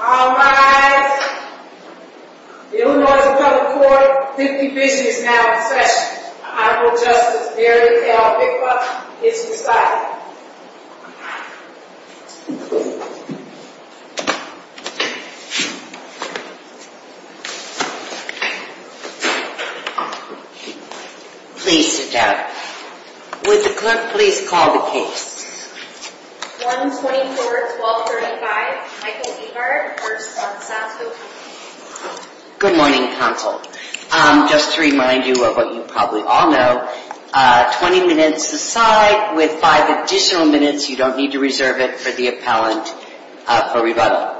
All rise. The Illinois Department of Corp. 50th Division is now in session. Honorable Justice Barry L. Bickoff is residing. Please sit down. Would the clerk please call the case. 124-1235. Michael Beard v. Monsanto Co. Good morning, counsel. Just to remind you of what you probably all know, 20 minutes aside, with five additional minutes, you don't need to reserve it for the appellant for rebuttal.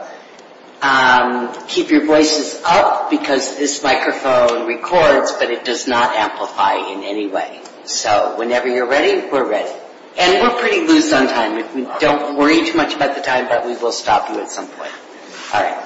Keep your voices up, because this microphone records, but it does not amplify in any way. So whenever you're ready, we're ready. And we're pretty ready. We lose some time. Don't worry too much about the time, but we will stop you at some point. All right.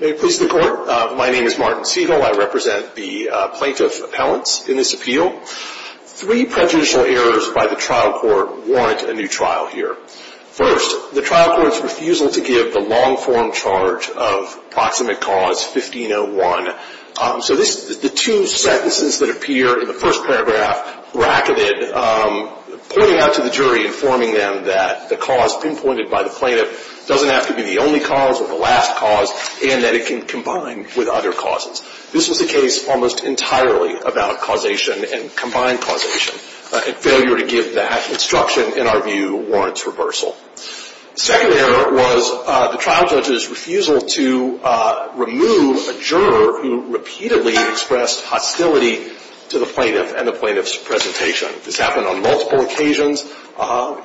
May it please the Court. Michael Beard v. Monsanto Co. My name is Martin Siegel. I represent the plaintiff appellants in this appeal. Three prejudicial errors by the trial court warrant a new trial here. First, the trial court's refusal to give the long-form charge of Proximate Cause 1501. So the two sentences that appear in the first paragraph bracketed, pointing out to the jury, informing them that the cause pinpointed by the plaintiff doesn't have to be the only cause or the last cause, and that it can combine with other causes. This was the case almost entirely about causation and combined causation, and failure to give that instruction, in our view, warrants reversal. The second error was the trial judge's refusal to remove a juror who repeatedly expressed hostility to the plaintiff and the plaintiff's presentation. This happened on multiple occasions.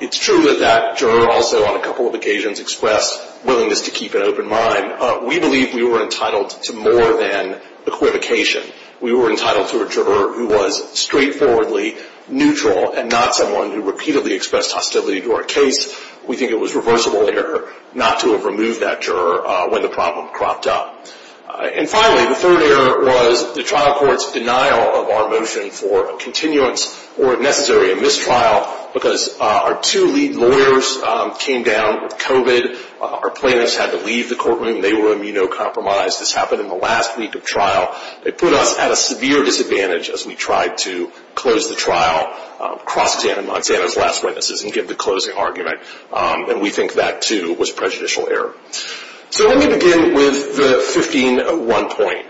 It's true that that juror also, on a couple of occasions, expressed willingness to keep an open mind. We believe we were entitled to more than equivocation. We were entitled to a juror who was straightforwardly neutral and not someone who repeatedly expressed hostility to our case. We think it was a reversible error not to have removed that juror when the problem cropped up. And finally, the third error was the trial court's denial of our motion for a continuance or, if necessary, a mistrial, because our two lead lawyers came down with COVID. Our plaintiffs had to leave the courtroom. They were immunocompromised. This happened in the last week of trial. It put us at a severe disadvantage as we tried to close the trial, cross-examine Monsanto's last witnesses and give the closing argument. And we think that, too, was prejudicial error. So let me begin with the 15-1 point.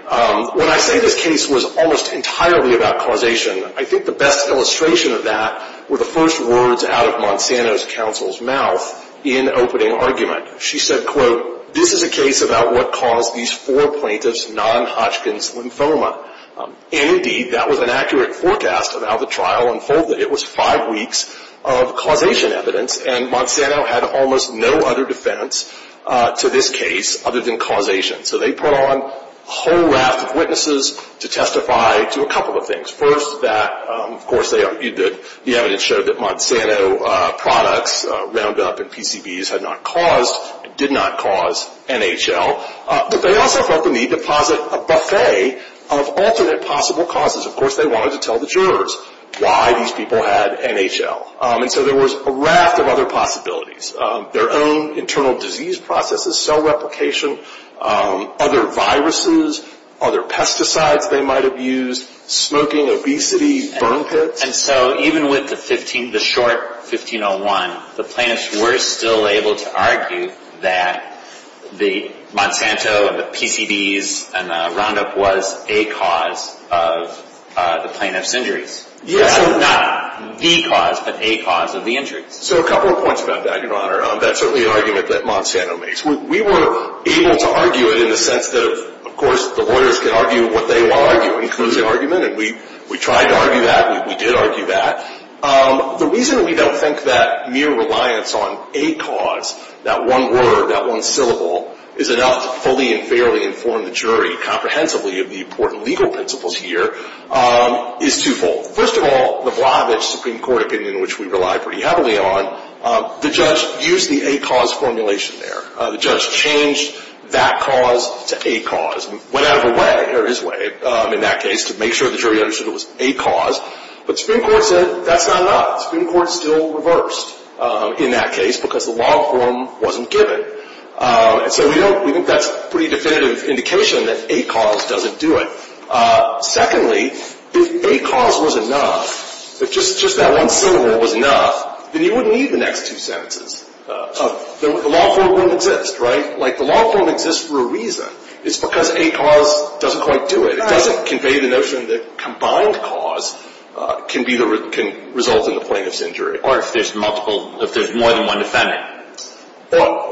When I say this case was almost entirely about causation, I think the best illustration of that were the first words out of Monsanto's counsel's mouth in opening argument. She said, quote, this is a case about what caused these four plaintiffs' non-Hodgkin's lymphoma. And, indeed, that was an accurate forecast of how the trial unfolded. It was five weeks of causation evidence. And Monsanto had almost no other defense to this case other than causation. So they put on a whole raft of witnesses to testify to a couple of things. First, that, of course, the evidence showed that Monsanto products, Roundup and PCBs, had not caused, did not cause NHL. But they also felt the need to deposit a buffet of alternate possible causes. Of course, they wanted to tell the jurors why these people had NHL. And so there was a raft of other possibilities. Their own internal disease processes, cell replication, other viruses, other pesticides they might have used, smoking, obesity, burn pits. And so even with the short 1501, the plaintiffs were still able to argue that the Monsanto and the PCBs and the Roundup was a cause of the plaintiffs' injuries. Yes. So not the cause, but a cause of the injuries. So a couple of points about that, Your Honor. That's certainly an argument that Monsanto makes. We were able to argue it in the sense that, of course, the lawyers can argue what they want to argue. It includes the argument. And we tried to argue that. We did argue that. The reason we don't think that mere reliance on a cause, that one word, that one syllable, is enough to fully and fairly inform the jury comprehensively of the important legal principles here is twofold. First of all, the Blavich Supreme Court opinion, which we rely pretty heavily on, the judge used the a cause formulation there. The judge changed that cause to a cause. It went out of the way, or his way, in that case, to make sure the jury understood it was a cause. But the Supreme Court said that's not enough. The Supreme Court still reversed in that case because the law form wasn't given. So we think that's a pretty definitive indication that a cause doesn't do it. Secondly, if a cause was enough, if just that one syllable was enough, then you wouldn't need the next two sentences. The law form wouldn't exist, right? Like, the law form exists for a reason. It's because a cause doesn't quite do it. It doesn't convey the notion that combined cause can result in the plaintiff's injury. Or if there's multiple, if there's more than one defendant. Well,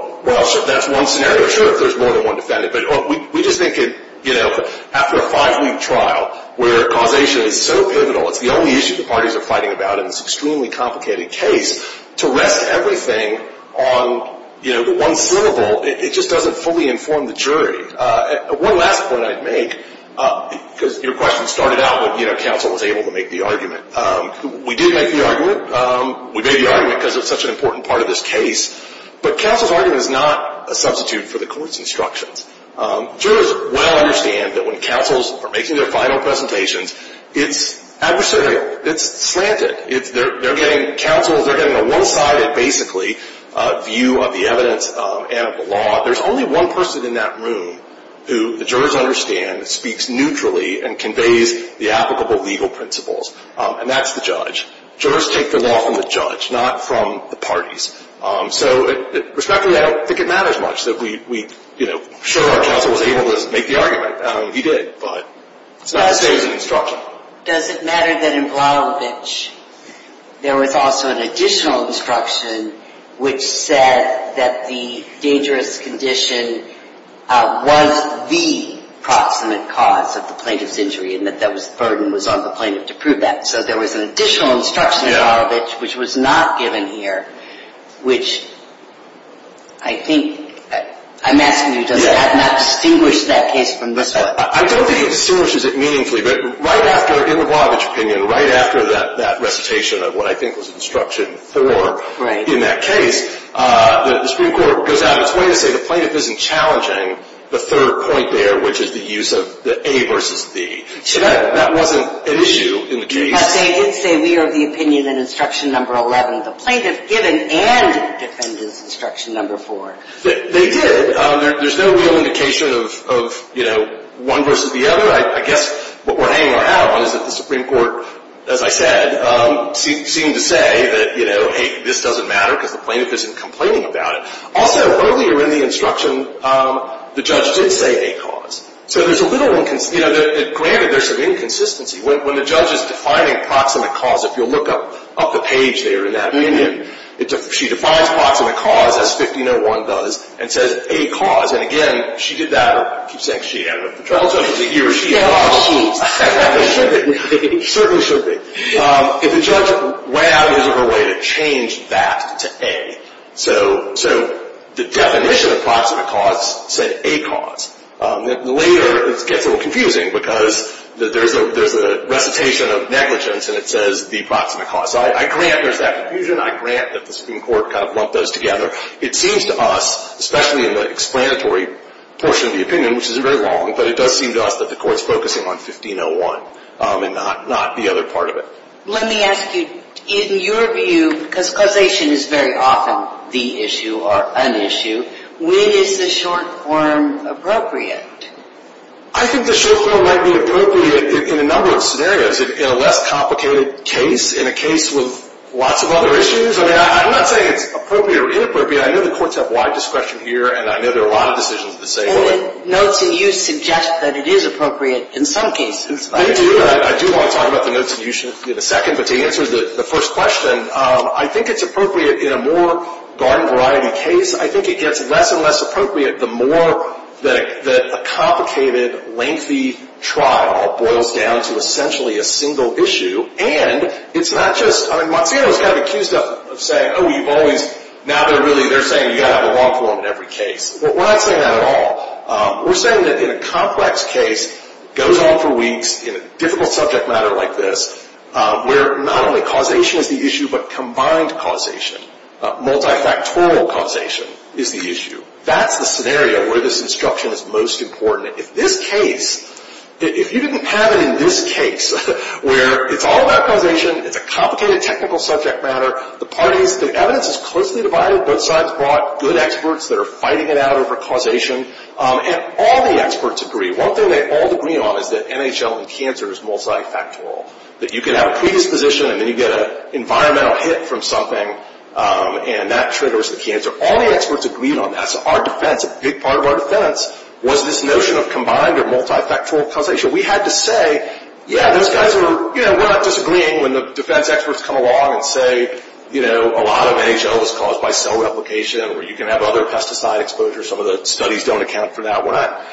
that's one scenario, sure, if there's more than one defendant. But we just think that after a five-week trial where causation is so pivotal, it's the only issue the parties are fighting about in this extremely complicated case, to rest everything on one syllable, it just doesn't fully inform the jury. One last point I'd make, because your question started out when counsel was able to make the argument. We did make the argument. We made the argument because it's such an important part of this case. But counsel's argument is not a substitute for the court's instructions. Jurors well understand that when counsels are making their final presentations, it's adversarial. It's slanted. They're getting, counsels, they're getting a one-sided, basically, view of the evidence and of the law. There's only one person in that room who the jurors understand speaks neutrally and conveys the applicable legal principles, and that's the judge. Jurors take the law from the judge, not from the parties. So, respectively, I don't think it matters much that we, you know, show our counsel was able to make the argument. He did, but it's not the same as an instruction. Does it matter that in Vladovich, there was also an additional instruction which said that the dangerous condition was the proximate cause of the plaintiff's injury, and that that burden was on the plaintiff to prove that? Yeah. There was an additional instruction in Vladovich which was not given here, which, I think, I'm asking you, does that not distinguish that case from this one? I don't think it distinguishes it meaningfully, but right after, in the Vladovich opinion, right after that recitation of what I think was instruction four in that case, the Supreme Court goes out of its way to say the plaintiff isn't challenging the third point there, which is the use of the A versus the E. So that wasn't an issue in the case. But they did say we are of the opinion in instruction number 11, the plaintiff given and defended instruction number four. They did. There's no real indication of, you know, one versus the other. I guess what we're hanging our hat on is that the Supreme Court, as I said, seemed to say that, you know, hey, this doesn't matter because the plaintiff isn't complaining about it. Also, earlier in the instruction, the judge did say a cause. So there's a little, you know, granted there's some inconsistency. When the judge is defining proximate cause, if you'll look up the page there in that opinion, she defines proximate cause as 1501 does and says a cause. And again, she did that. I keep saying she, I don't know if the trial judge is a he or she. She. It should be. It certainly should be. If the judge went out of his or her way to change that to a. So the definition of proximate cause said a cause. Later, it gets a little confusing because there's a recitation of negligence and it says the proximate cause. So I grant there's that confusion. I grant that the Supreme Court kind of lumped those together. It seems to us, especially in the explanatory portion of the opinion, which isn't very long, but it does seem to us that the Court's focusing on 1501 and not the other part of it. Let me ask you, in your view, because causation is very often the issue or an issue, when is the short form appropriate? I think the short form might be appropriate in a number of scenarios. In a less complicated case. In a case with lots of other issues. I mean, I'm not saying it's appropriate or inappropriate. I know the courts have wide discretion here and I know there are a lot of decisions to say. And the notes in you suggest that it is appropriate in some cases. I do. I do want to talk about the notes in you in a second. But to answer the first question, I think it's appropriate in a more garden variety case. I think it gets less and less appropriate the more that a complicated, lengthy trial boils down to essentially a single issue. And it's not just, I mean, Mazzino's kind of accused of saying, oh, you've always, now they're saying you've got to have a long form in every case. We're not saying that at all. We're saying that in a complex case, goes on for weeks, in a difficult subject matter like this, where not only causation is the issue, but combined causation. Multi-factorial causation is the issue. That's the scenario where this instruction is most important. If this case, if you didn't have it in this case, where it's all about causation, it's a complicated technical subject matter, the parties, the evidence is closely divided. Both sides brought good experts that are fighting it out over causation. And all the experts agree. One thing they all agree on is that NHL and cancer is multi-factorial. That you can have a predisposition and then you get an environmental hit from something and that triggers the cancer. All the experts agreed on that, so our defense, a big part of our defense, was this notion of combined or multi-factorial causation. We had to say, yeah, those guys were, you know, we're not disagreeing when the defense experts come along and say, you know, a lot of NHL was caused by cell replication, or you can have other pesticide exposure, some of the studies don't account for that. We're not,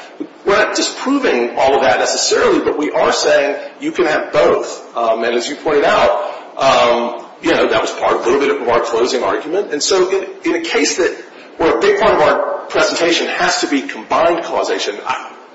we're not disproving all of that necessarily, but we are saying you can have both. And as you pointed out, you know, that was part, a little bit of our closing argument. And so in a case that, where a big part of our presentation has to be combined causation,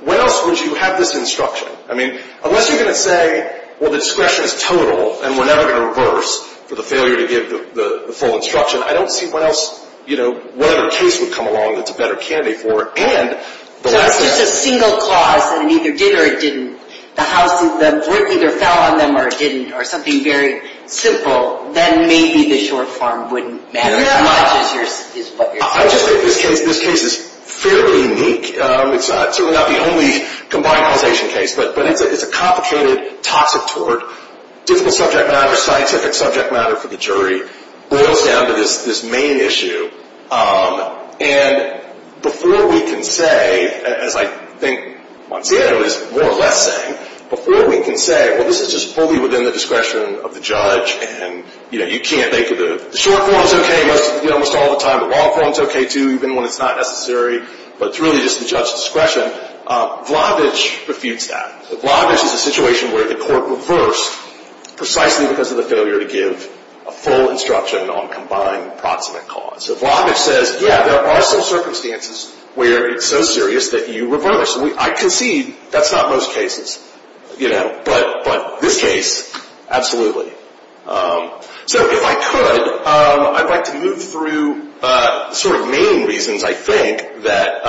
when else would you have this instruction? I mean, unless you're going to say, well, the discretion is total, and we're never going to reverse for the failure to give the full instruction, I don't see when else, you know, what other case would come along that's a better candidate for it. And the rest of the... So it's just a single clause, and it either did or it didn't. The house, the brick either fell on them or it didn't, or something very simple, then maybe the short form wouldn't matter as much as what you're saying. I just think this case, this case is fairly unique. It's certainly not the only combined causation case, but it's a complicated, toxic tort. Difficult subject matter, scientific subject matter for the jury boils down to this main issue. And before we can say, as I think Monsanto is more or less saying, before we can say, well, this is just fully within the discretion of the judge, and, you know, you can't... The short form is okay almost all the time. The long form is okay, too, even when it's not necessary. But it's really just the judge's discretion. Vlavic refutes that. Vlavic is a situation where the court reversed precisely because of the failure to give a full instruction on combined proximate cause. So Vlavic says, yeah, there are some circumstances where it's so serious that you reverse. I concede that's not most cases. But this case, absolutely. So if I could, I'd like to move through the sort of main reasons, I think, that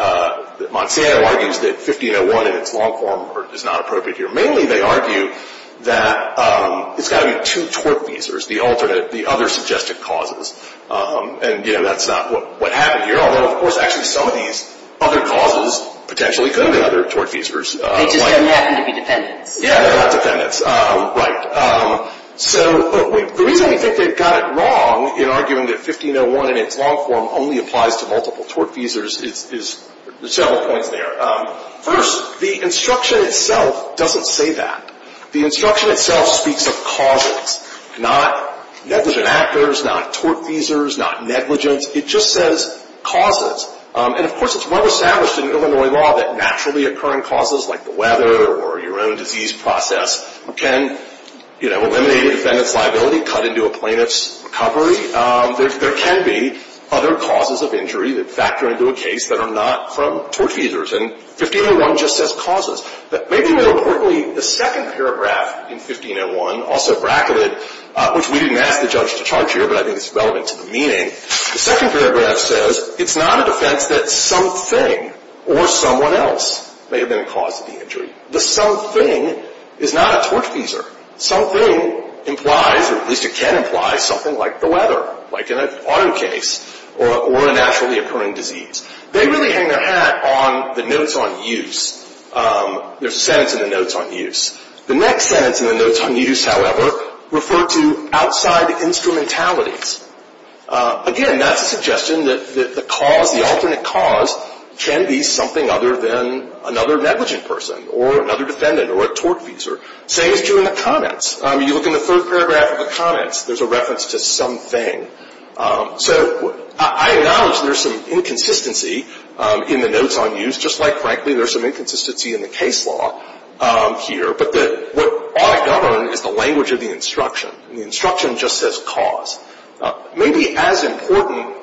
Monsanto argues that 1501 in its long form is not appropriate here. Mainly they argue that it's got to be two tort visas, the alternate, the other suggested causes. And, you know, that's not what happened here. Although, of course, actually some of these other causes potentially could be other tort visas. They just don't happen to be defendants. Yeah, they're not defendants. Right. So the reason we think they've got it wrong in arguing that 1501 in its long form only applies to multiple tort visas is... There's several points there. First, the instruction itself doesn't say that. The instruction itself speaks of causes, not negligent actors, not tort visas, not negligence. It just says causes. And, of course, it's well established in Illinois law that naturally occurring causes, like the weather or your own disease process, can eliminate a defendant's liability, cut into a plaintiff's recovery. There can be other causes of injury that factor into a case that are not from tort visas. And 1501 just says causes. But maybe more importantly, the second paragraph in 1501, also bracketed, which we didn't ask the judge to charge here, but I think it's relevant to the meaning. The second paragraph says it's not a defense that something or someone else may have been a cause of the injury. The something is not a tort visa. Something implies, or at least it can imply, something like the weather, like in an auto case or a naturally occurring disease. They really hang their hat on the notes on use. There's a sentence in the notes on use. The next sentence in the notes on use, however, referred to outside instrumentalities. Again, that's a suggestion that the cause, the alternate cause, can be something other than another negligent person or another defendant or a tort visa. Same is true in the comments. You look in the third paragraph of the comments. There's a reference to something. So I acknowledge there's some inconsistency in the notes on use, just like, frankly, there's some inconsistency in the case law here. But what ought to govern is the language of the instruction. The instruction just says cause. Maybe as important,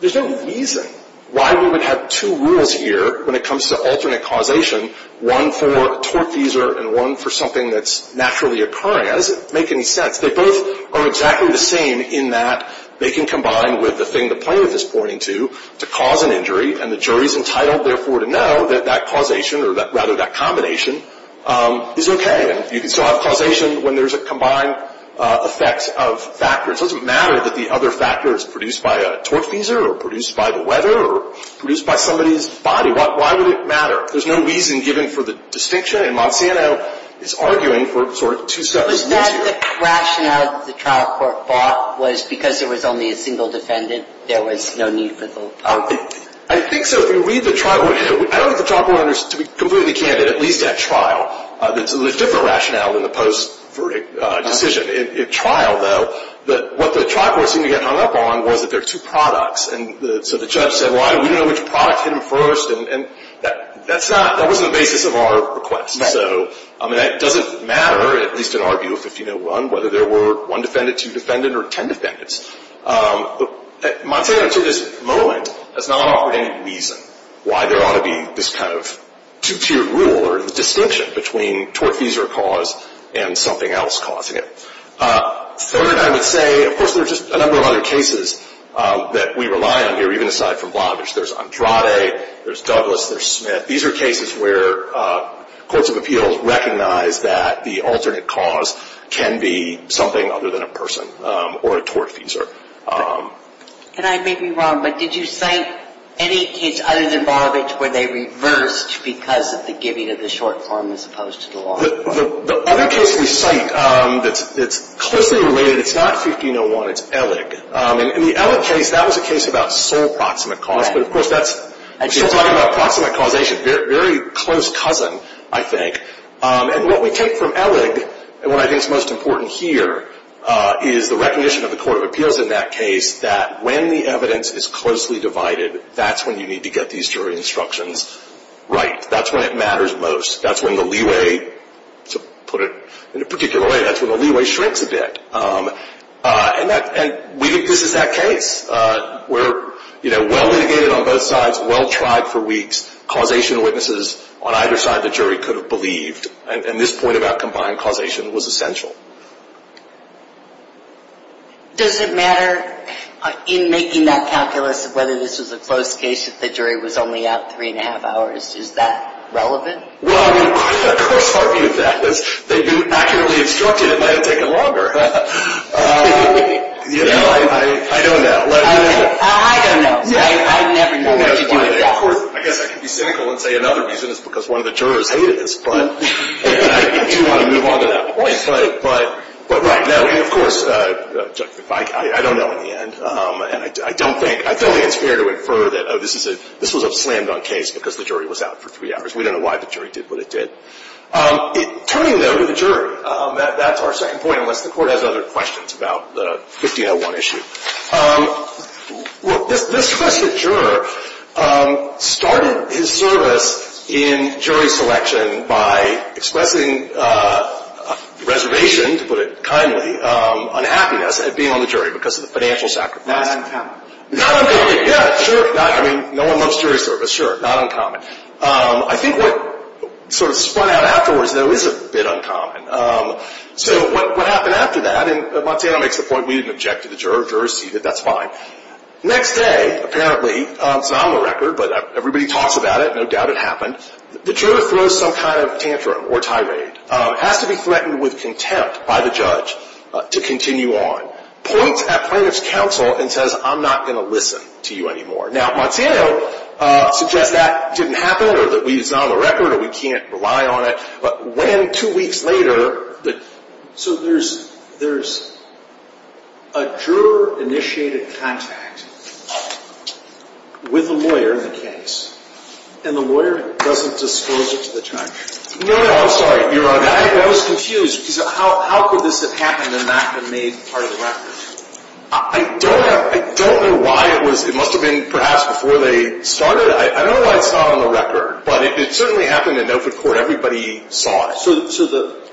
there's no reason why we would have two rules here when it comes to alternate causation, one for a tort visa and one for something that's naturally occurring. That doesn't make any sense. They both are exactly the same in that they can combine with the thing the plaintiff is pointing to to cause an injury, and the jury's entitled, therefore, to know that that causation, or rather that combination, is okay. And you can still have causation when there's a combined effect of factors. It doesn't matter that the other factor is produced by a tort visa or produced by the weather or produced by somebody's body. Why would it matter? There's no reason given for the distinction, and Monsanto is arguing for sort of two separate rules here. But then the rationale that the trial court fought was because there was only a single defendant, there was no need for the whole party. I think so. If you read the trial, I don't think the trial court understood it completely, but at least at trial, there's a different rationale than the post-verdict decision. At trial, though, what the trial court seemed to get hung up on was that there are two products, and so the judge said, well, we don't know which product hit him first, and that's not, that wasn't the basis of our request. So, I mean, it doesn't matter, at least in our view of 1501, whether there were one defendant, two defendants, or ten defendants. Monsanto, to this moment, has not offered any reason why there ought to be this kind of two-tiered rule or the distinction between tort visa cause and something else causing it. Third, I would say, of course, there's just a number of other cases that we rely on here, even aside from Blavich. There's Andrade, there's Douglas, there's Smith. These are cases where courts of appeals recognize that the alternate cause can be something other than a person or a tort visa. And I may be wrong, but did you cite any case other than Blavich where they reversed because of the giving of the short form as opposed to the long form? The other case we cite that's closely related, it's not 1501, it's Elig. In the Elig case, that was a case about sole proximate cause, but of course that's if you're talking about proximate causation, very close cousin, I think. And what we take from Elig, and what I think is most important here, is the recognition of the court of appeals in that case that when the evidence is closely divided, that's when you need to get these jury instructions right. That's when it matters most. That's when the leeway, to put it in a particular way, that's when the leeway shrinks a bit. And we think this is that case where, you know, well litigated on both sides, well tried for weeks, causation witnesses on either side of the jury could have believed. And this point about combined causation was essential. Does it matter in making that calculus whether this was a closed case if the jury was only out three and a half hours? Is that relevant? Well, I mean, I would of course argue that. They do accurately instruct it might have taken longer. You know, I don't know. I don't know. I never know. I guess I can be cynical and say another reason is because one of the jurors hated this. But I do want to move on to that point. But right now, and of course, I don't know in the end. And I don't think, I feel like it's fair to infer that this was a slammed on case because the jury was out for three hours. We don't know why the jury did what it did. Turning, though, to the jury, that's a good question. I mean, that's our second point unless the court has other questions about the 1501 issue. Well, this trusted juror started his service in jury selection by expressing reservation, to put it kindly, unhappiness at being on the jury because of the financial sacrifice. Not uncommon. Not uncommon. Yeah, sure. I mean, no one loves jury service. Sure. Not uncommon. I think what sort of spun out afterwards, is a bit uncommon. So, what happened after that, and Monsanto makes the point we didn't object to the juror, juror seated, that's fine. Next day, apparently, it's on the record, but everybody talks about it, no doubt it happened, the juror throws some kind of tantrum or tirade, has to be threatened with contempt by the judge to continue on, points at plaintiff's counsel and says, I'm not going to listen to you anymore. Now, Monsanto suggests that didn't happen or that it's on the record or we can't rely on it. But, when, two weeks later, the... So, there's, there's a juror-initiated contact with the lawyer in the case, and the lawyer doesn't disclose it to the judge. No, no, I'm sorry, you're wrong. I was confused because how could this have happened and not been made part of the record? I don't, I don't know why it was, it must have been perhaps before they started. It started, I don't know why it's not on the record, but it certainly happened in Milford Court. Everybody saw it. so the,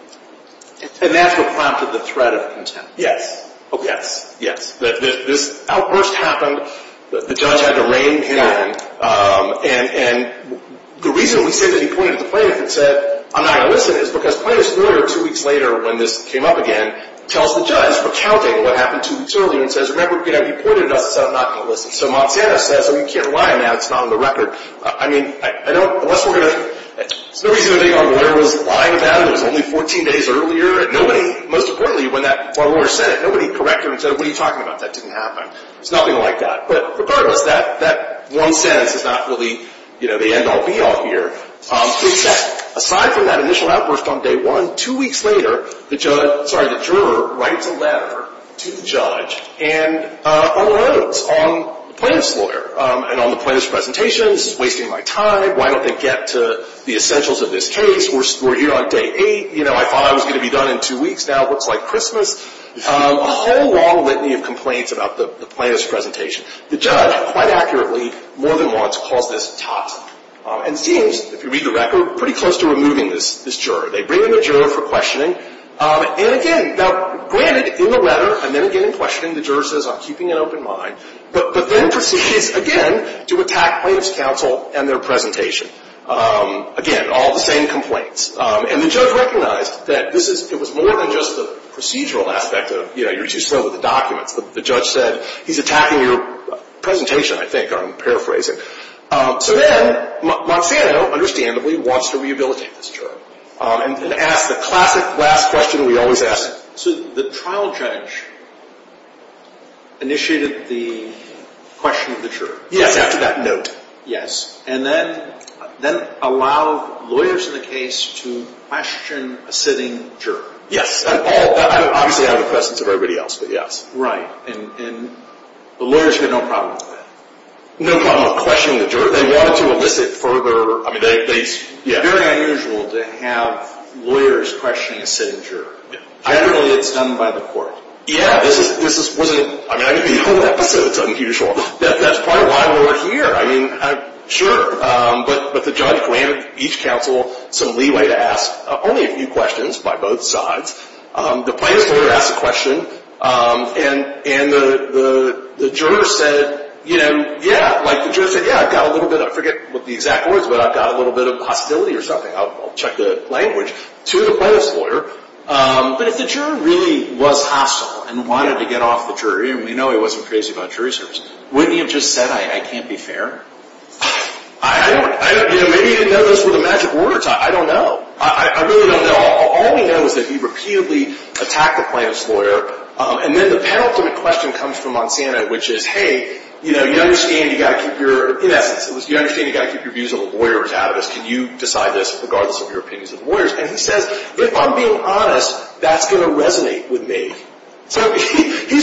and that's what prompted the threat of contempt. Yes. Yes. Yes. This outburst happened, the judge had to rein in, and, and, the reason we say that he pointed at the plaintiff and said, I'm not going to listen is because plaintiff's lawyer, two weeks later, when this came up again, tells the judge, recounting what happened two weeks earlier, and says, remember, he pointed at us and said, I'm not going to listen. So Monsanto says, we can't rely on that, it's not on the record. I mean, I don't, unless we're going to, there's no reason to think our lawyer was lying about it. It was only 14 days earlier. Nobody, most importantly, when that, when our lawyer said it, nobody corrected him and said, what are you talking about? That didn't happen. It's nothing like that. But regardless, that, that one sentence is not really, you know, the end-all, be-all here. Except, aside from that initial outburst on day one, two weeks later, the judge, sorry, the juror, writes a letter to the judge and unloads on the plaintiff's lawyer and on the plaintiff's presentation, this is wasting my time, why don't they get to the essentials of this case, we're here on day eight, you know, I thought I was going to be done in two weeks, now it looks like Christmas. A whole long litany of complaints about the plaintiff's presentation. The judge, quite accurately, more than once, calls this toxic. And seems, if you read the record, pretty close to removing this, this juror. They bring in the juror for questioning, and again, now, granted, in the letter, and then again in questioning, the juror says, I'm keeping an open mind, but then proceeds, again, to attack plaintiff's counsel and their presentation. Again, all the same complaints. And the judge recognized that this is, it was more than just the procedural aspect of, you know, you're too slow with the documents, but the judge said, he's attacking your presentation, I think, I'm paraphrasing. So then, Monsanto, understandably, wants to rehabilitate this juror. And asks the classic last question we always ask. So, the trial judge initiated the question of the juror. Yes, after that note. Yes. And then, then allowed lawyers in the case to question a sitting juror. Yes. And all, obviously, out of the presence of everybody else, but yes. Right. And, and the lawyers had no problem with that. No problem with questioning the juror. They wanted to elicit further, I mean, they, it's very unusual to have lawyers questioning a sitting juror. Ideally, it's done by the court. Yeah, this is, this is, I mean, the whole episode is unusual. That's probably why we're here. I mean, sure, but the judge granted each counsel some leeway to ask only a few questions by both sides. The plaintiff's lawyer asked a question and, and the, the, the juror said, you know, yeah, like the juror said, yeah, I've got a little bit of, I forget what the exact words, but I've got a little bit of hostility or something. I'll, I'll check the language to the plaintiff's lawyer. But if the juror really was hostile and wanted to get off the jury, and we know he wasn't crazy about jury services, wouldn't he have just said, I, I can't be fair? I don't, I don't, I don't know. Maybe he didn't know those were the magic words. I, I don't know. I, I really don't know. All we know is that he repeatedly attacked the plaintiff's lawyer and then the penultimate question comes from Monsanto, which is, you know, you understand you've got to keep your, in essence, you understand you've got to keep your views of the lawyers out of this. Can you decide this regardless of your opinions of the lawyers? And he says, if I'm being honest, that's going to resonate with me. So he, he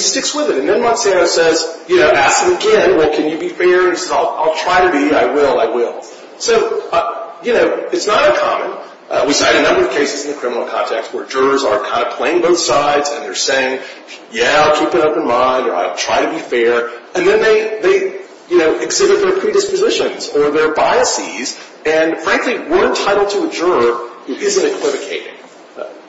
sticks with it. And then Monsanto says, you know, asks him again, well, can you be fair? He says, I'll, I'll try to be. I will, I will. So, you know, it's not uncommon. We've seen a number of cases in the criminal context where jurors are kind of playing both sides and they're saying, yeah, I'll keep an open mind or I'll try to be fair. And then they, they, you know, exhibit their predispositions or their biases and frankly, we're entitled to a juror who isn't equivocating.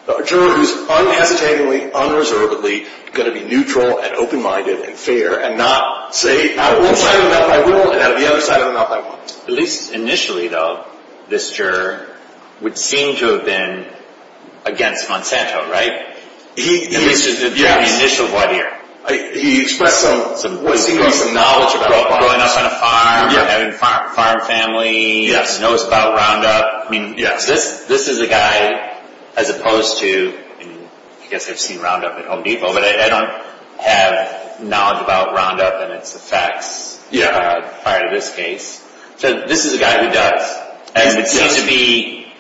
A juror who's unhesitatingly, unreservedly going to be neutral and open-minded and fair and not say out of one side of the mouth I will and out of the other side of the mouth I won't. At least initially, though, this juror would seem to have been against Monsanto, right? He, In the initial, what year? He expressed some, some, well, it seemed to be some knowledge about growing up on a farm, having a farm family, knows about Roundup. I mean, this, this is a guy as opposed to, I mean, I guess I've seen Roundup at Home Depot, but I don't have knowledge about Roundup and its effects prior to this case. So this is a guy who does. And it seems to be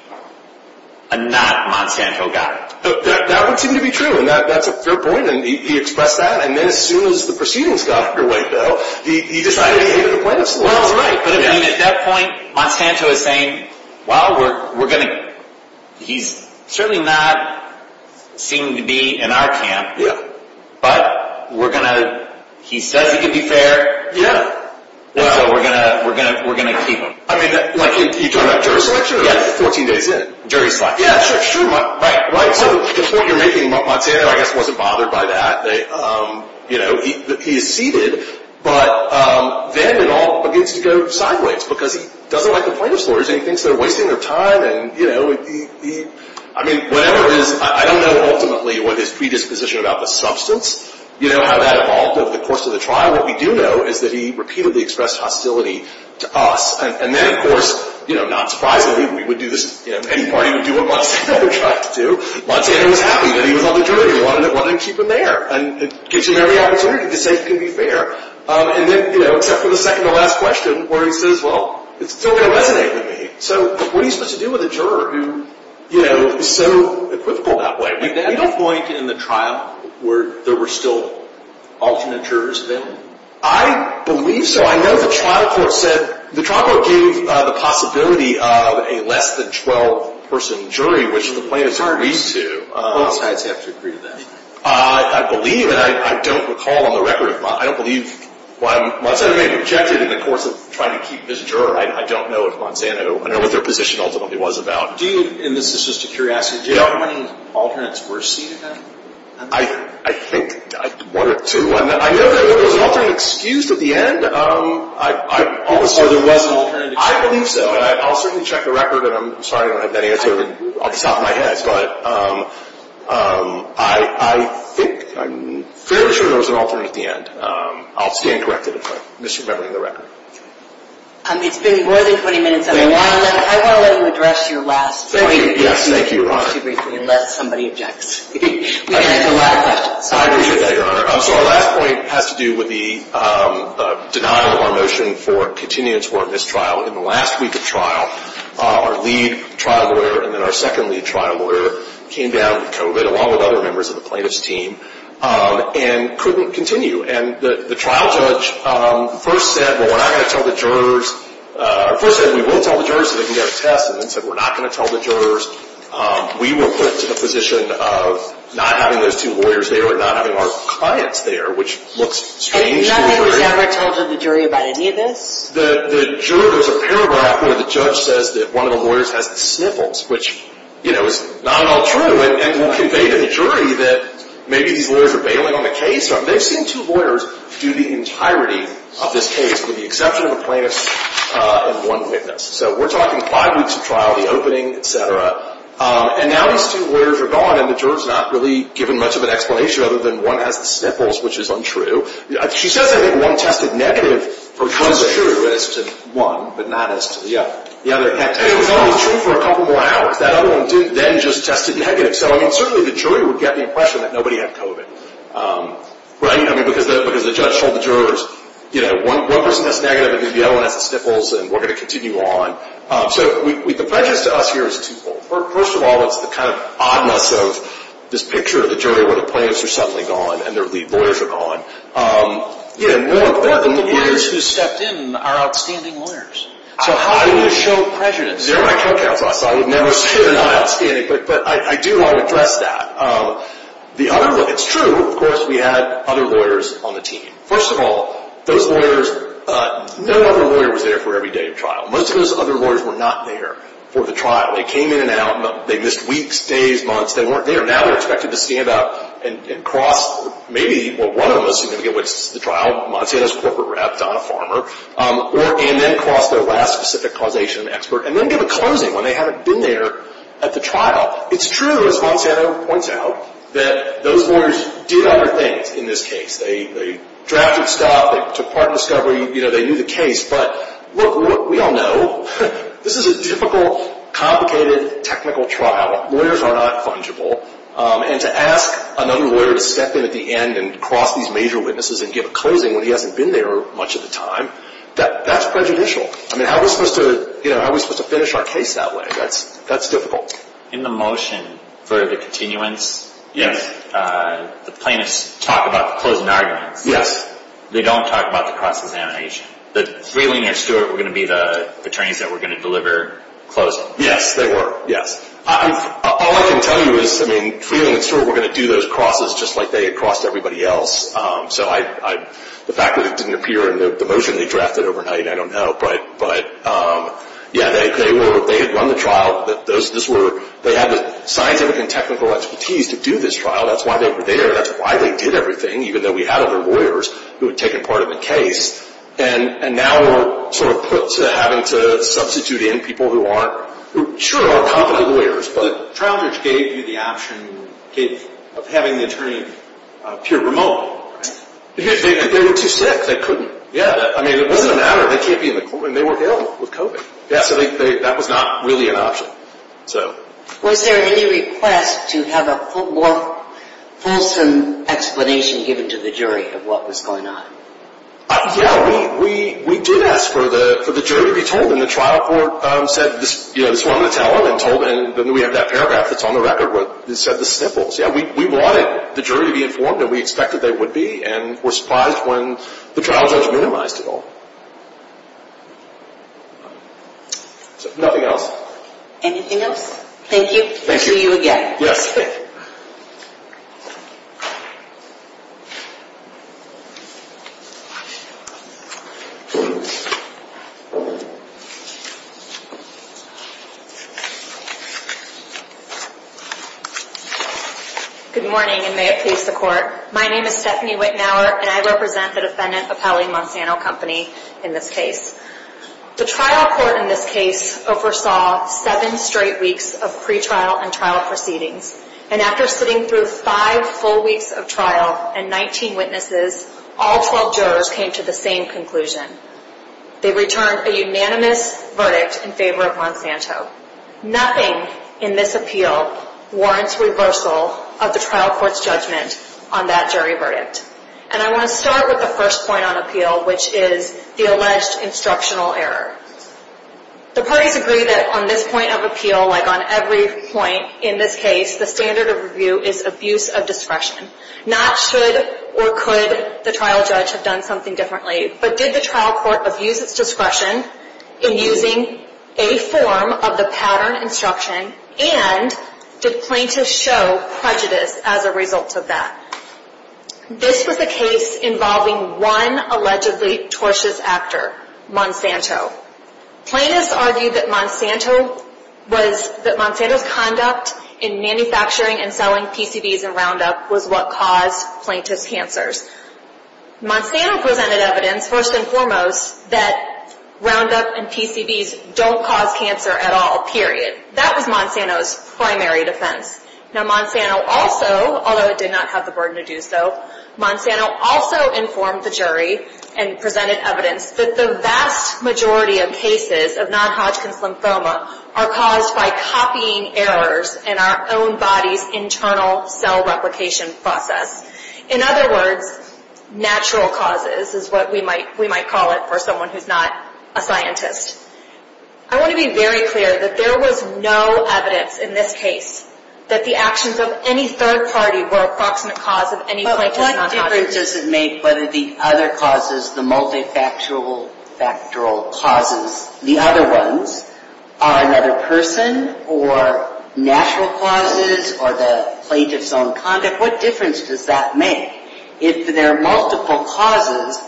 a not Monsanto guy. That would seem to be true and that, that's a fair point and he expressed that and then as soon as the proceedings got underway, though, he, he decided Well, right. But at that point, Monsanto is saying, we're, we're going to, he's certainly not seem to be in our camp. Yeah. But we're going to, he says he can be fair. Yeah. Well, we're going to, we're going to, we're going to keep him. I mean, you're talking about jury selection? Yeah. 14 days in. Jury selection. Yeah, sure, sure. Right, right. So, the point you're making, Monsanto, I guess, wasn't bothered by that. you know, he is seated, but then it all begins to go sideways because he doesn't like the plaintiff's lawyers and he thinks they're wasting their time and, you know, he, he, I mean, whatever it is, I don't know ultimately what his predisposition about the substance, you know, how that evolved over the course of the trial. What we do know is that he repeatedly expressed hostility to us and then, you know, not surprisingly, we would do this, you know, any party would do what Monsanto tried to do. Monsanto was happy that he was on the jury and wanted to keep him there and it gives him every opportunity to say he can be fair and then, you know, except for the second to last question where he says, it's still going to resonate with me. So, what are you supposed to do with a juror who, you know, is so equivocal that way? Did you have a point in the trial where there were still alternate jurors available? I believe so. I know the trial court said, the trial court gave the possibility of a less than 12 person jury which the plaintiff agrees to. Both sides have to agree to that. I believe and I don't recall on the record I don't believe Monsanto may have objected in the course of trying to keep this juror. I don't know if Monsanto, I don't know what their position ultimately was about. Do you, I guess this is just a curiosity, do you know how many alternates were seen at that time? I think one or two. I know that there was an alternate excused at the end. Or there was an alternate excused. I believe so. I'll certainly check the record and I'm sorry I don't have that answer off the top of my head but I think I'm fairly sure there was an alternate at the end. I'll stand corrected if I'm misremembering the record. It's been more than 20 minutes and I want to let you address your last point. Yes, thank you Your Honor. Unless somebody objects. We can answer a lot of questions. I appreciate that Your Honor. So our last point has to do with the denial of our motion for continuing to warrant this trial. In the last week of trial our lead trial lawyer and then our second lead trial lawyer came down with COVID along with other members of the plaintiff's team and couldn't continue. And the trial judge first said well we're not going to tell the jurors first said we will tell the jurors so they can get a test and then said we're not going to tell the jurors. We were put to the position of not having those two lawyers there or not having our clients there which looks strange to the jury. Has anyone ever told the jury that maybe these lawyers are bailing on the case? They've seen two lawyers do the entirety of this case with the exception of a plaintiff and one witness. So we're talking five weeks of trial, the opening, et cetera. And now these two lawyers are gone and the juror's not really given much of an explanation other than one has the sniffles which is untrue. She says I think one tested negative for COVID. It was true as to one but not as to the other. And it was only true for a couple more hours. That other one then just tested negative. So certainly the jury would get the that nobody had COVID. Because the judge told the jurors one person tested negative because the other one has the sniffles and we're going to continue on. So the prejudice to us here is twofold. First of all it's the kind of oddness of this picture of the jury where the plaintiffs are suddenly gone and their lead lawyers are gone. But the lawyers who stepped in are outstanding lawyers. So how do you show prejudice? They're my co-counsel. I would never say they're not outstanding. But I do want to address that. It's true of course we had other lawyers on the team. First of all those lawyers no other lawyer was there for every day of trial. Most of those other lawyers were not there for the trial. They came in and out they missed weeks, days, months, they weren't there. Now they're not there trial. It's true as Monsanto points out that those lawyers did other things in this case. They drafted stuff, they took part in discovery, they knew the case. But we all know this is a difficult, complicated, technical trial. are not fungible. And to ask another lawyer to step in at the end and give a closing when he hasn't been there much of the time that's prejudicial. How are we supposed to finish our case that way? That's difficult. In the motion for the continuance the plaintiffs talk about the closing arguments. They don't talk about the cross-examination. Freeling and Stewart were going to be the attorneys that were going to closing. Yes, they were. All I can tell you is Freeling and Stewart were going to do those crosses just like they had crossed everybody else. The fact that it didn't appear in the motion they drafted overnight, I don't the technical expertise to do this trial. That's why they were there. That's why they did everything. Even though we had other lawyers who had taken part in the case. And now we're sort of put to having to in people who aren't competent lawyers. The trial judge gave you the option of having the attorney appear remotely. They were too sick. They couldn't. It wasn't a matter. They can't be in the courtroom. They were ill with COVID. That was not really an option. Was there any request to have a more fulsome explanation given to the jury of what was going on? Yeah. We did ask for the jury to be told. The trial court said this was going to tell them. We have that paragraph that's on the record. We wanted the jury to be informed and we expected they would be. We were surprised when the trial judge minimized it all. Anything else? Thank you. Thank you. We'll see you again. Yes. Good morning and may it please the My name is Stephanie Wittenauer and I the defendant of Howell and Monsanto and Monsanto in this case. The trial court in this case oversaw seven straight weeks of pre-trial and trial proceedings and after sitting through five full weeks of and nineteen witnesses all twelve jurors came to the same conclusion. They returned a unanimous verdict in favor of Nothing in this appeal warrants reversal of the trial court's judgment on that jury verdict. And I want to start with the first point on appeal which is the alleged instructional error. The parties agree that on this point of appeal like on every point in this case the standard of review is abuse of discretion not should or could the trial judge have done something differently but did the trial court abuse its discretion in using a form of the pattern instruction and did plaintiffs show prejudice as a result of that. This was the case involving one allegedly tortious actor Monsanto. argued that Monsanto was that Monsanto's conduct in manufacturing and selling PCBs and Roundup was what caused plaintiff's cancers. Monsanto presented evidence first and foremost that Roundup and PCBs don't cause cancer at all period. That was Monsanto's primary defense. Now Monsanto also although it did not have the burden to do so Monsanto also informed the jury and presented evidence that the vast majority of cases of non-Hodgkin's lymphoma are caused by copying errors in our own body's internal cell replication process. In other words, natural causes is what we might call it for someone who's not a scientist. I want to be very clear that there was no evidence in this case that the actions of any third party were a proximate cause of any plaintiff's non-Hodgkin's. But what difference does it make whether the other causes the multifactorial causes, the other ones are another person or natural causes or the plaintiff's own conduct? What difference does that make? If there are multiple causes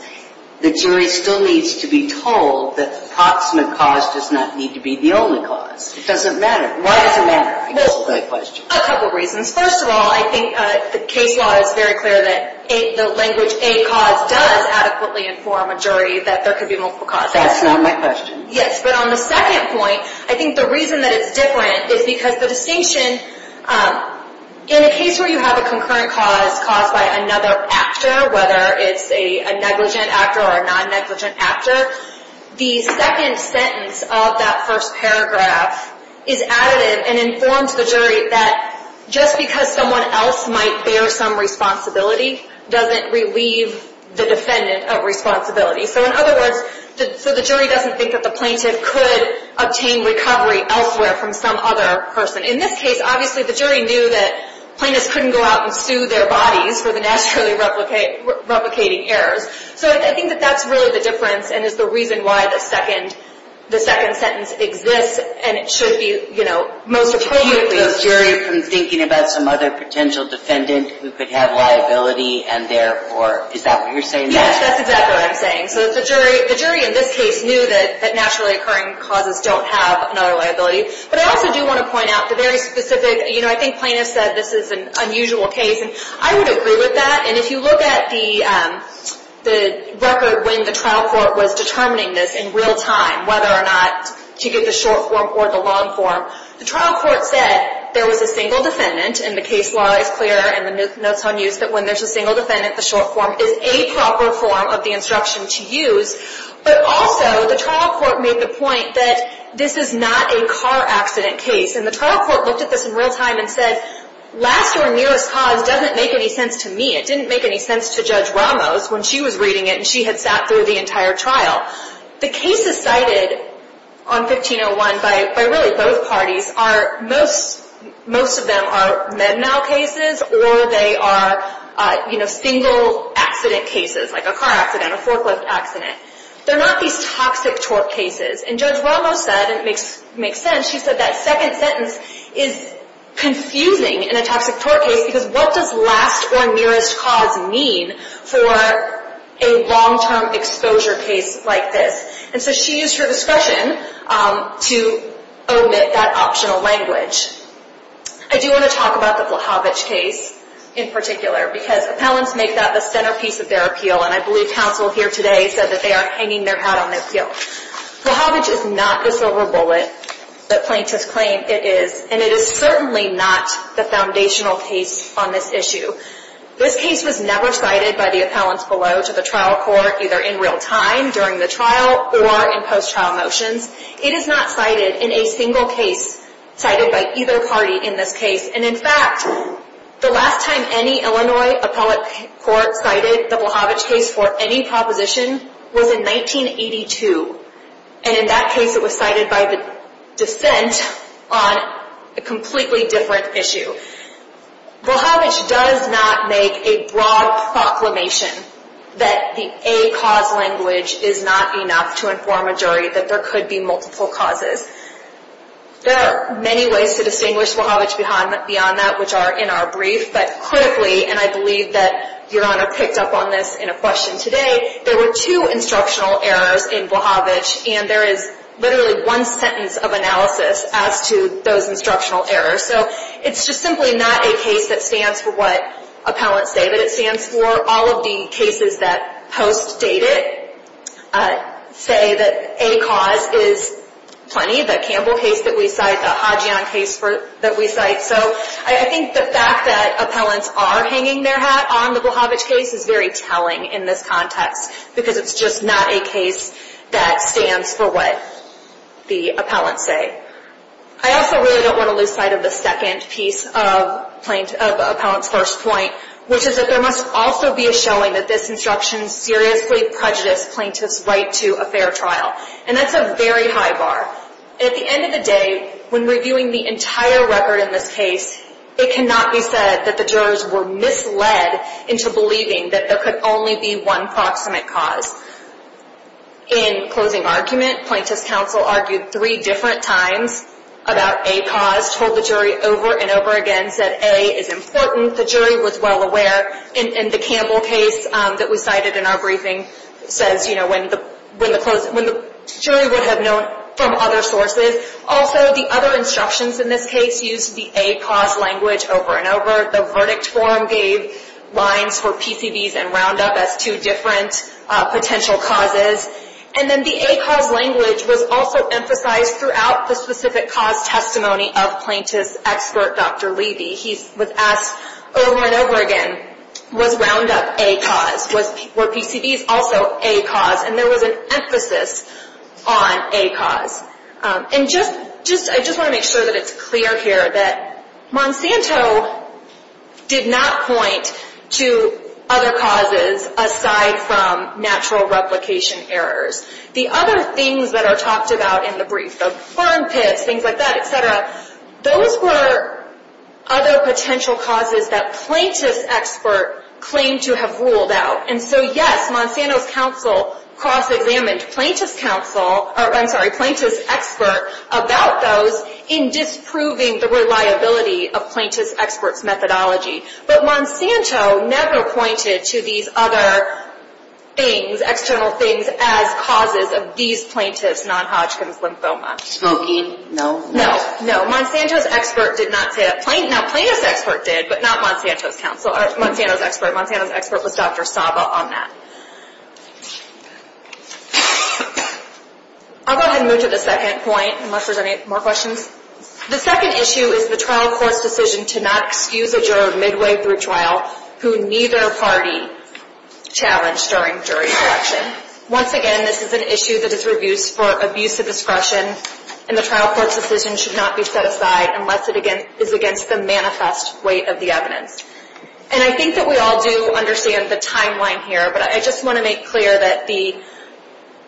the jury still needs to be told that the proximate cause does not need to be the only cause. It doesn't matter. Why does it matter? I guess is the question. A couple reasons. First of all, I think the case law is very clear that the language a cause does adequately inform a jury that there could be multiple causes. That's not my question. Yes, but on the second point, I think the reason that it's different is because the distinction, in a case where you have a concurrent cause caused by another actor, whether it's a negligent actor or a non-negligent actor, the second there's some responsibility, doesn't relieve the defendant of responsibility. So in other words, the jury doesn't think that the plaintiff could obtain recovery elsewhere from some other person. In this case, obviously the jury knew that plaintiffs couldn't go out and sue their bodies for the naturally replicating errors. So I think that's really the difference and is the reason why the second sentence exists and it should be most appropriately So you keep the jury from thinking about some other potential defendant who could have liability and therefore, is that what you're saying? Yes, that's exactly what I'm So the jury in this case knew that naturally occurring causes don't have another liability. But I also do think that the trial court was determining this in real time whether or not to get the short form or the long form. The trial court said there was a single defendant and the case law is clear and the notes on use that when there's a single defendant, the short form is a proper form of the instruction to use. But also, the trial court made the point that this is not a car accident case and the trial court looked at this in real time and said, last or nearest cause doesn't make any sense to me. It didn't make any sense to Judge Ramos when she was reading it and she had sat through the entire trial. The cases cited on 1501 by really both parties are most of them are med mal cases or they are single accident cases like a car accident, a forklift accident. They are not these toxic tort cases and Judge Ramos said that second sentence is confusing in a toxic tort case because what does last or nearest cause mean for a long term exposure case like this? And so she used her discretion to omit that optional language. I do want to talk about the Blahovich case in particular because appellants make that the case that they are hanging their hat on their heel. Blahovich is not the silver bullet that plaintiffs claim it is and it is certainly not the foundational case on this issue. This case was never cited by the appellants below to the trial court either in real time during the trial or in post trial motions. It is not cited in a single case cited by either party in this case and in fact the last time any Illinois appellate court cited the Blahovich case for any proposition was in 1982 and in that case it was cited by the dissent on a completely different issue. does not make a broad proclamation that the a cause language is not enough to inform a jury that there could be causes. There are many ways to distinguish Blahovich beyond that which are in our brief but critically and I believe that Your Honor picked up on this in a question today, there were two instructional errors in Blahovich and there is literally one sentence of analysis as to those instructional errors. So it's just simply not a case that stands for what appellants say but it stands for all of the cases that post-date it say that a cause is plenty, the Campbell case that we cite, the Hadjian case that we cite, so I think the fact that appellants are hanging their hat on the Blahovich case is very telling in this context because it's just not a case that stands for what appellants say but it stands for all of the cases that post-date it say that a cause is plenty, the a cause is plenty, the Campbell case that we cite, so I think the fact that appellants are hanging their a cause is plenty, the Campbell case that we cite, so I think Blahovich case is plenty, the so I think the fact that appellants are hanging their appellants are hanging their hat on the Blahovich case is very telling in because it's not a case that appellants say but it all of the cases that post-date Blahovich case so I think the fact that appellants are hanging their hat on the Blahovich case is very telling in stands for the manifest weight of the evidence and I think that we all do understand the timeline here but I just want to make clear that the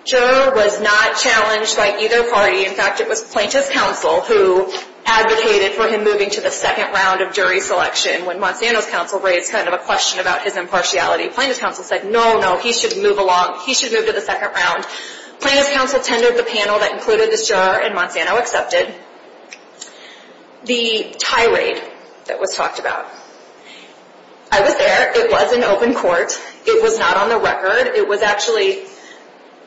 juror was not challenged by either party. In fact, it was plaintiff's counsel who advocated for him moving to the second round of jury selection when Monsanto's counsel raised kind of a question about his impartiality. Plaintiff's counsel said, no, no, he should move along, he should move to the second round. Plaintiff's counsel tendered the panel that included the juror and Monsanto accepted the tirade that was talked about. I was there, it was an open court, it was not on the record, it was actually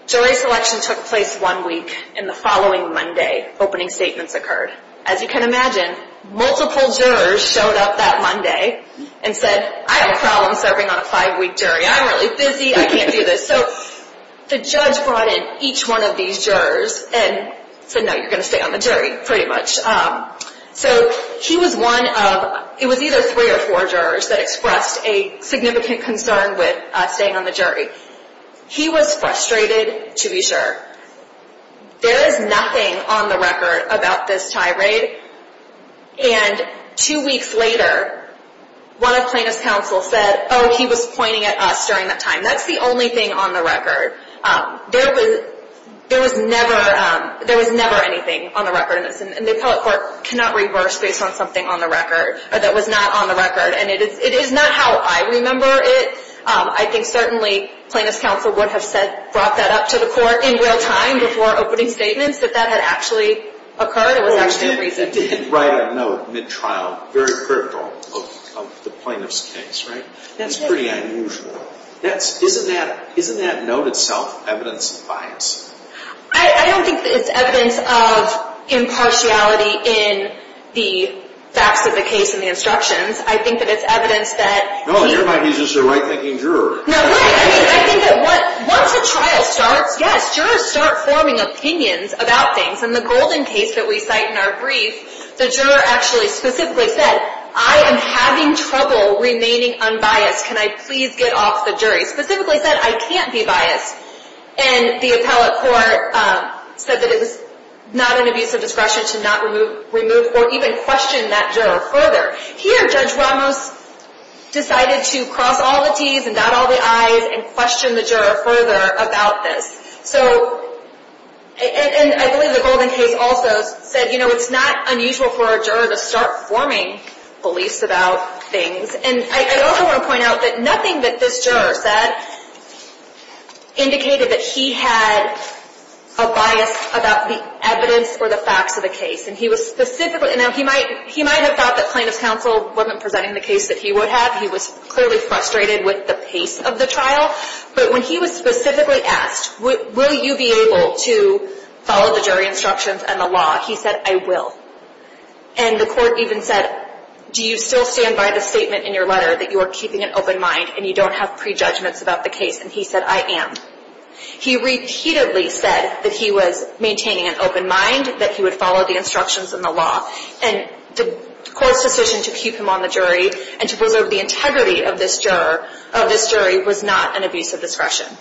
jury selection took place one week and the following Monday opening statements occurred. As you can imagine, multiple jurors showed up that Monday and said, I have a problem serving on a five week jury, I'm really busy, I can't do this. So the judge brought in each one of these jurors and said, no, you're going to stay on the jury pretty much. So he was one of, it was either three or four jurors that expressed a concern with staying on the He was frustrated to be sure. There is nothing on the record about this tirade. And two weeks later, one of plaintiff's counsel said, oh, he was pointing at us during that time. That's the only thing on the There was never, there was never anything on the record and the appellate court cannot reverse based on something on the record that was not on the record. And it is not how I remember it. I think certainly plaintiff's counsel would have said, brought that up to the court in real time before opening statements that that had actually occurred. It was actually recent. Right on note, mid-trial, very critical of the plaintiff's case, right? That's pretty unusual. Isn't that note itself evidence of I don't think it's evidence of impartiality in the facts of the case and the instructions. I think that it's evidence that He's just a right-thinking juror. Once a trial starts, yes, jurors start forming opinions about things. In the golden case that we cite in our brief, the juror actually specifically said, I am having trouble remaining unbiased. Can I please get off the jury? Specifically said, I can't be biased. And the appellate court said that it was not an abuse of discretion to not remove or even question that juror further. Here, Judge Ramos decided to cross all the T's and dot all the I's and question the juror further about this. I believe the golden case also said it's not unusual for a juror to start forming beliefs about things. I also want to point out that nothing that this juror said indicated that he had a bias about the evidence or the facts of the case. And he was specifically, he might have thought that plaintiff's counsel wasn't presenting the case that he would have. He was clearly frustrated with the pace of the trial. But when he was specifically asked, will you be able to follow the jury instructions and the law, he said, I will. And the court even said, do you still stand by the statement in your letter that you are keeping an open mind and you don't have prejudgments about the case? And he said, I am. He repeatedly said that he was maintaining an open mind, that he would follow the instructions of the jury and And he And the do you stand by the statement in your letter that you are keeping an open mind and you don't have prejudgments about the case? And the court even said, do you stand by the statement in your letter that you are keeping an open mind? And the court even said, do you stand by the statement in your letter that keeping an open mind?... I do want to talk about the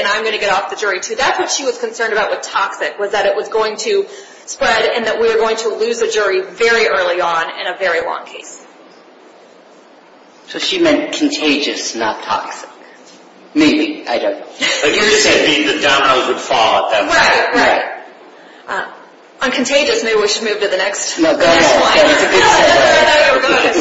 third issue. I do want to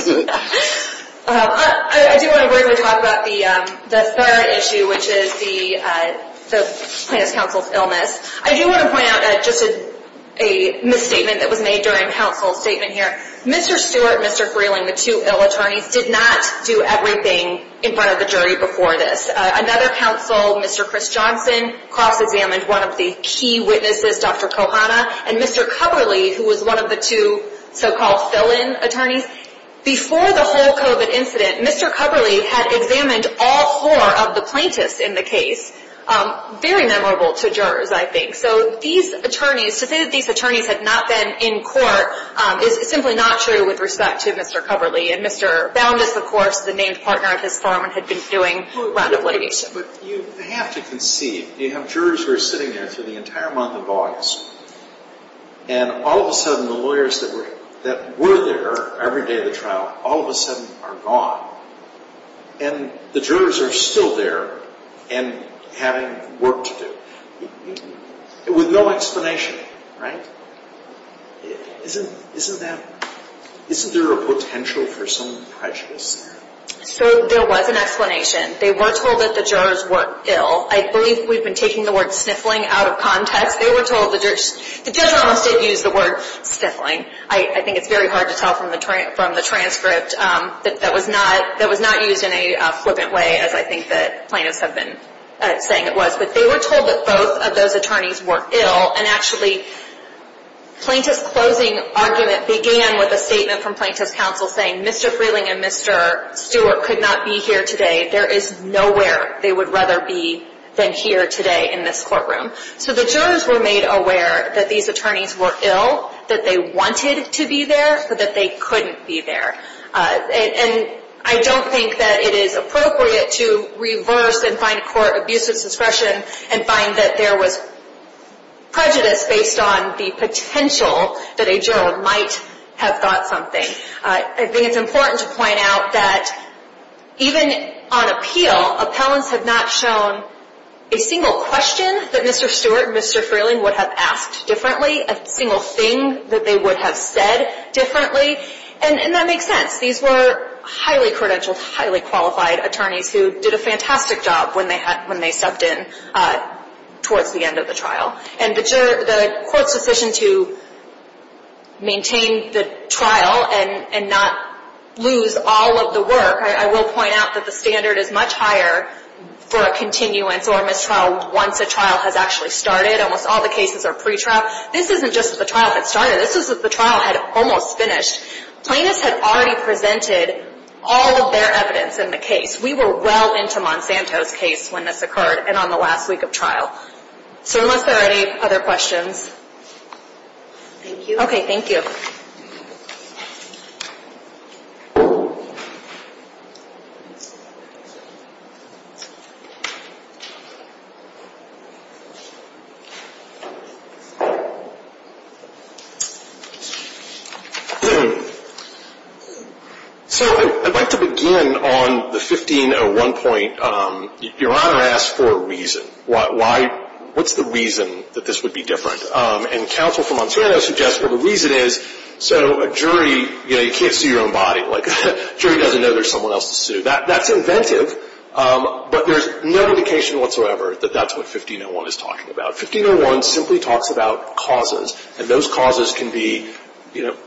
point out listed a misstatement that was made here. Mr. Stewrt, the two ill attorneys did not do everything in front of the jury before this. Mr. Johnson cross-examined with Dr. Kohana and Mr. Coverly. the whole Mr. Coverly examined all four of the plaintiffs in the case. memorable to jurors. To say these attorneys had not been in court is simply not true with respect to Mr. Coverly. Mr. Boundas, the named partner of his lawyer, sitting there through the entire month of August and all of a sudden the lawyers that were there every day of the trial all of a sudden are gone. And the jurors are still there and having work to do. With no explanation, right? Isn't there a potential for the plaintiffs I think it's very hard to tell from the transcript that that was not used in a flippant way as I think the plaintiffs have been saying it was. But they were told that both of those attorneys were ill and actually plaintiffs closing argument began with a statement from plaintiffs counsel saying Mr. Freeling and Mr. Stewart could not be here today. There is nowhere they would rather be than here today in this courtroom. So the jurors were made aware that these attorneys were ill, that they wanted to be there, but that they couldn't be there. And I don't think that it is appropriate to reverse and find court abuse of and find that there was prejudice based on the potential that a juror might have thought something. I think it's important to point out that even on appellants have not shown a single question that Mr. Stewart and Mr. Freeling would have asked differently, a single thing that they would have said differently, and that makes sense. These were highly credentialed, highly qualified attorneys who did a fantastic job when they stepped in towards the end of the trial. And the court's decision to maintain the trial and not lose all of the work, I will point out that the standard is much higher for a continuance or mistrial once a trial has actually started. Almost all the cases are pre-trial. This isn't just the trial that started. This is the trial that almost finished. Plaintiffs had already presented all of their evidence in the case. We were well into Monsanto's case when this occurred and on the last week of So unless there are any other questions. Okay, thank you. So I would like to begin on the 1501 point. Your Honor asked for a reason. What's the reason that this would be different? And counsel from Monsanto suggests the reason is that the jury doesn't know there's someone else to That's inventive but there's no indication whatsoever that that's what 1501 is talking about. 1501 simply talks about causes and those causes can be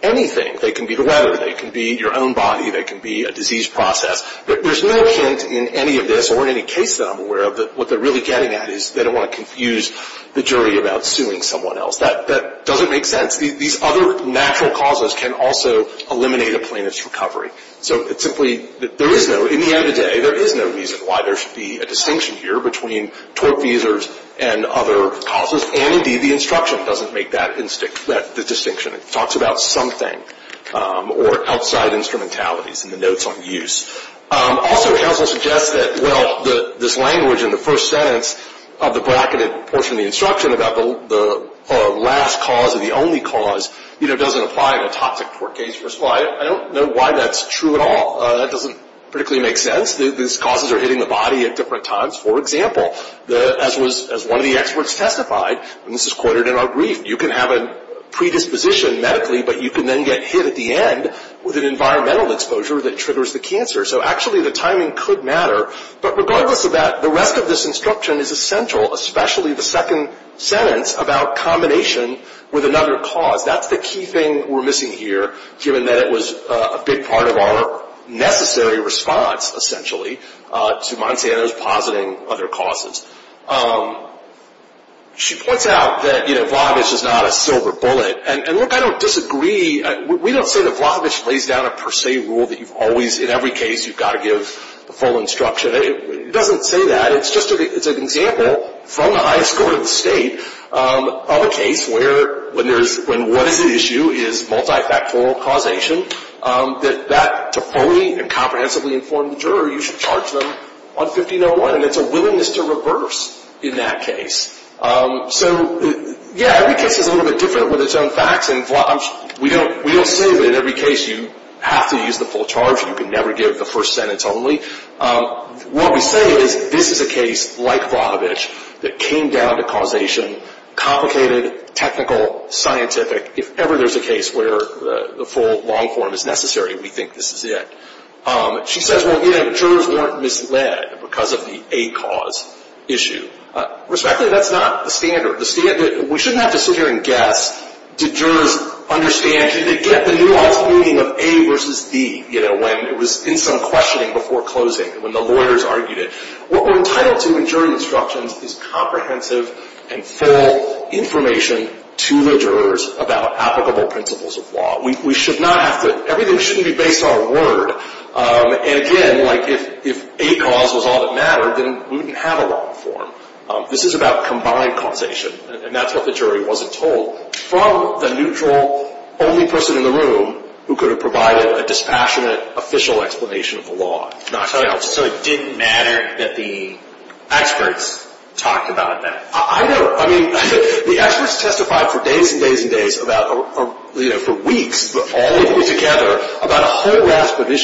anything. They can be the they can be your own body, they can be a disease process. There's no hint in any of this or in any case that I'm aware of that what they're really getting at is they don't want to confuse the jury about suing someone else. That doesn't make sense. These other natural causes can also eliminate a plaintiff's recovery. So it simply there is no in the end of the day there is no reason why there should be a distinction here between tortfeasors and other causes and indeed the instruction doesn't make that distinction. It talks about something or outside instrumentalities and the notes on use. Also counsel suggests that well this language in the first sentence of the bracketed portion of the instruction about the last cause or the only cause doesn't apply in a toxic tort case. I don't know why that's true at That doesn't make sense. These causes are hitting the body at different times. For example, as one of the experts testified, you can have a predisposition medically but you can get hit at the end with an environmental exposure that triggers the cancer. So the timing could matter. But regardless of that, the rest of this instruction is essential, especially the second sentence about combination with another cause. That's the key thing we're missing here given that it was a big part of our necessary response essentially to Montana's positing other causes. She points out that Vlahovic is not a silver bullet. And look, I don't disagree. We don't say that Vlahovic lays down a per se rule that in every case you've got to give the full instruction. It doesn't say that. It's just an example from the highest court of of a case where when what is the issue is multi-factorial causation, that to fully and comprehensively inform the juror, you should charge them on 1501. And it's a willingness to reverse in that case. So, yeah, every case is a little bit different with its own facts. We don't say that in every case you have to use the full charge. You can never give the first sentence only. What we say is this is a case like Vlahovic that came down to causation, complicated, technical, If ever there's a case where the full long form is necessary, we think this is it. She says jurors weren't misled because of the A cause issue. Respectfully, that's not the standard. We shouldn't have to sit here and guess did jurors understand, did they get the nuance meaning of A versus B when it was in some questioning before closing, when the lawyers argued it. What we're trying to do information to the jurors about applicable principles of law. Everything shouldn't be based on word. Again, if A cause was all that mattered, we wouldn't have a long form. This is about combined causation. That's what the jury wasn't told from the neutral only person in the room who could have provided a most passionate official explanation of the law. So it didn't matter that the experts talked about that. I know. The experts testified for days and days and days for weeks all together about a whole rasp of To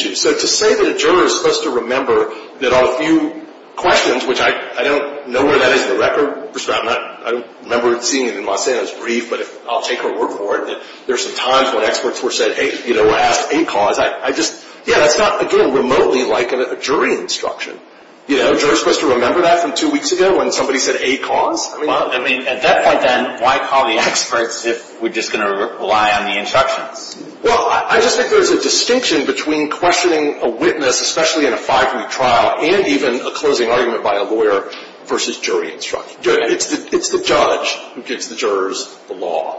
say that a juror is supposed to remember that a few questions, which I don't know where that is in the record, I'll take a look at There are times when experts asked A cause. It's not remotely like a jury instruction. A juror is supposed to remember that from two weeks ago. At that point, why call the experts if we're going to rely on the instructions? I think there's a reason for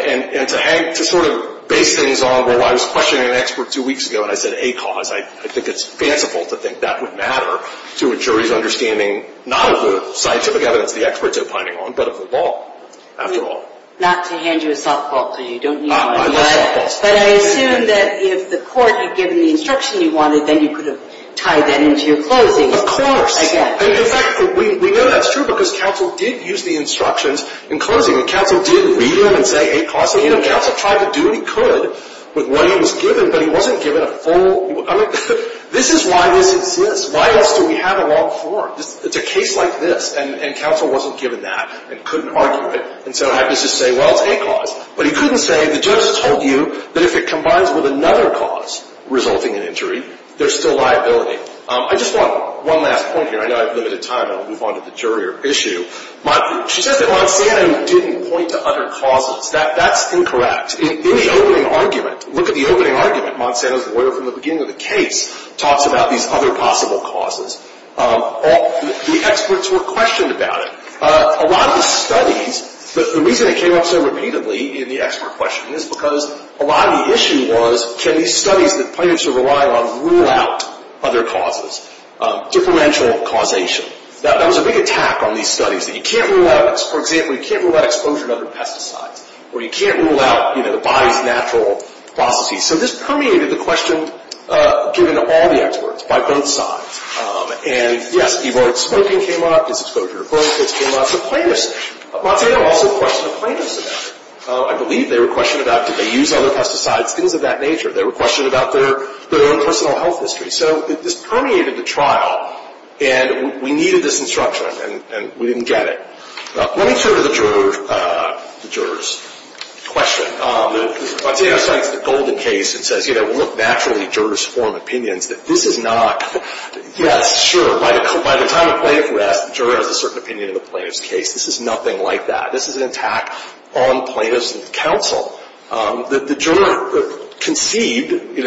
And to sort of base things on, well, I was questioning an expert two weeks ago and I said A cause. I think it's fanciful to think that would matter to a jury's understanding not of the scientific evidence the are opining on but of the evidence there. I think it's a good way to try to something like that. I think that's a good way to do something like that. I think it's a good way to do something like that. I it's a good way to do something like that. I think it's a good way to do something like that. it's a good way to way to do something I think it's a good way to do like that. think a good to like that. think it's a good way something like that. I think it's a good way to do like that. I think it's good that. it's a good way to do that. I it's like that. I think it's a good way to do like that. good it's like that. I think it's a good way to do like good like that. I it's a good way to like that. I think it's a good way to do like that. it's good like that. I think it's a good to do like that. I think a way to do like that. I think it's a I it's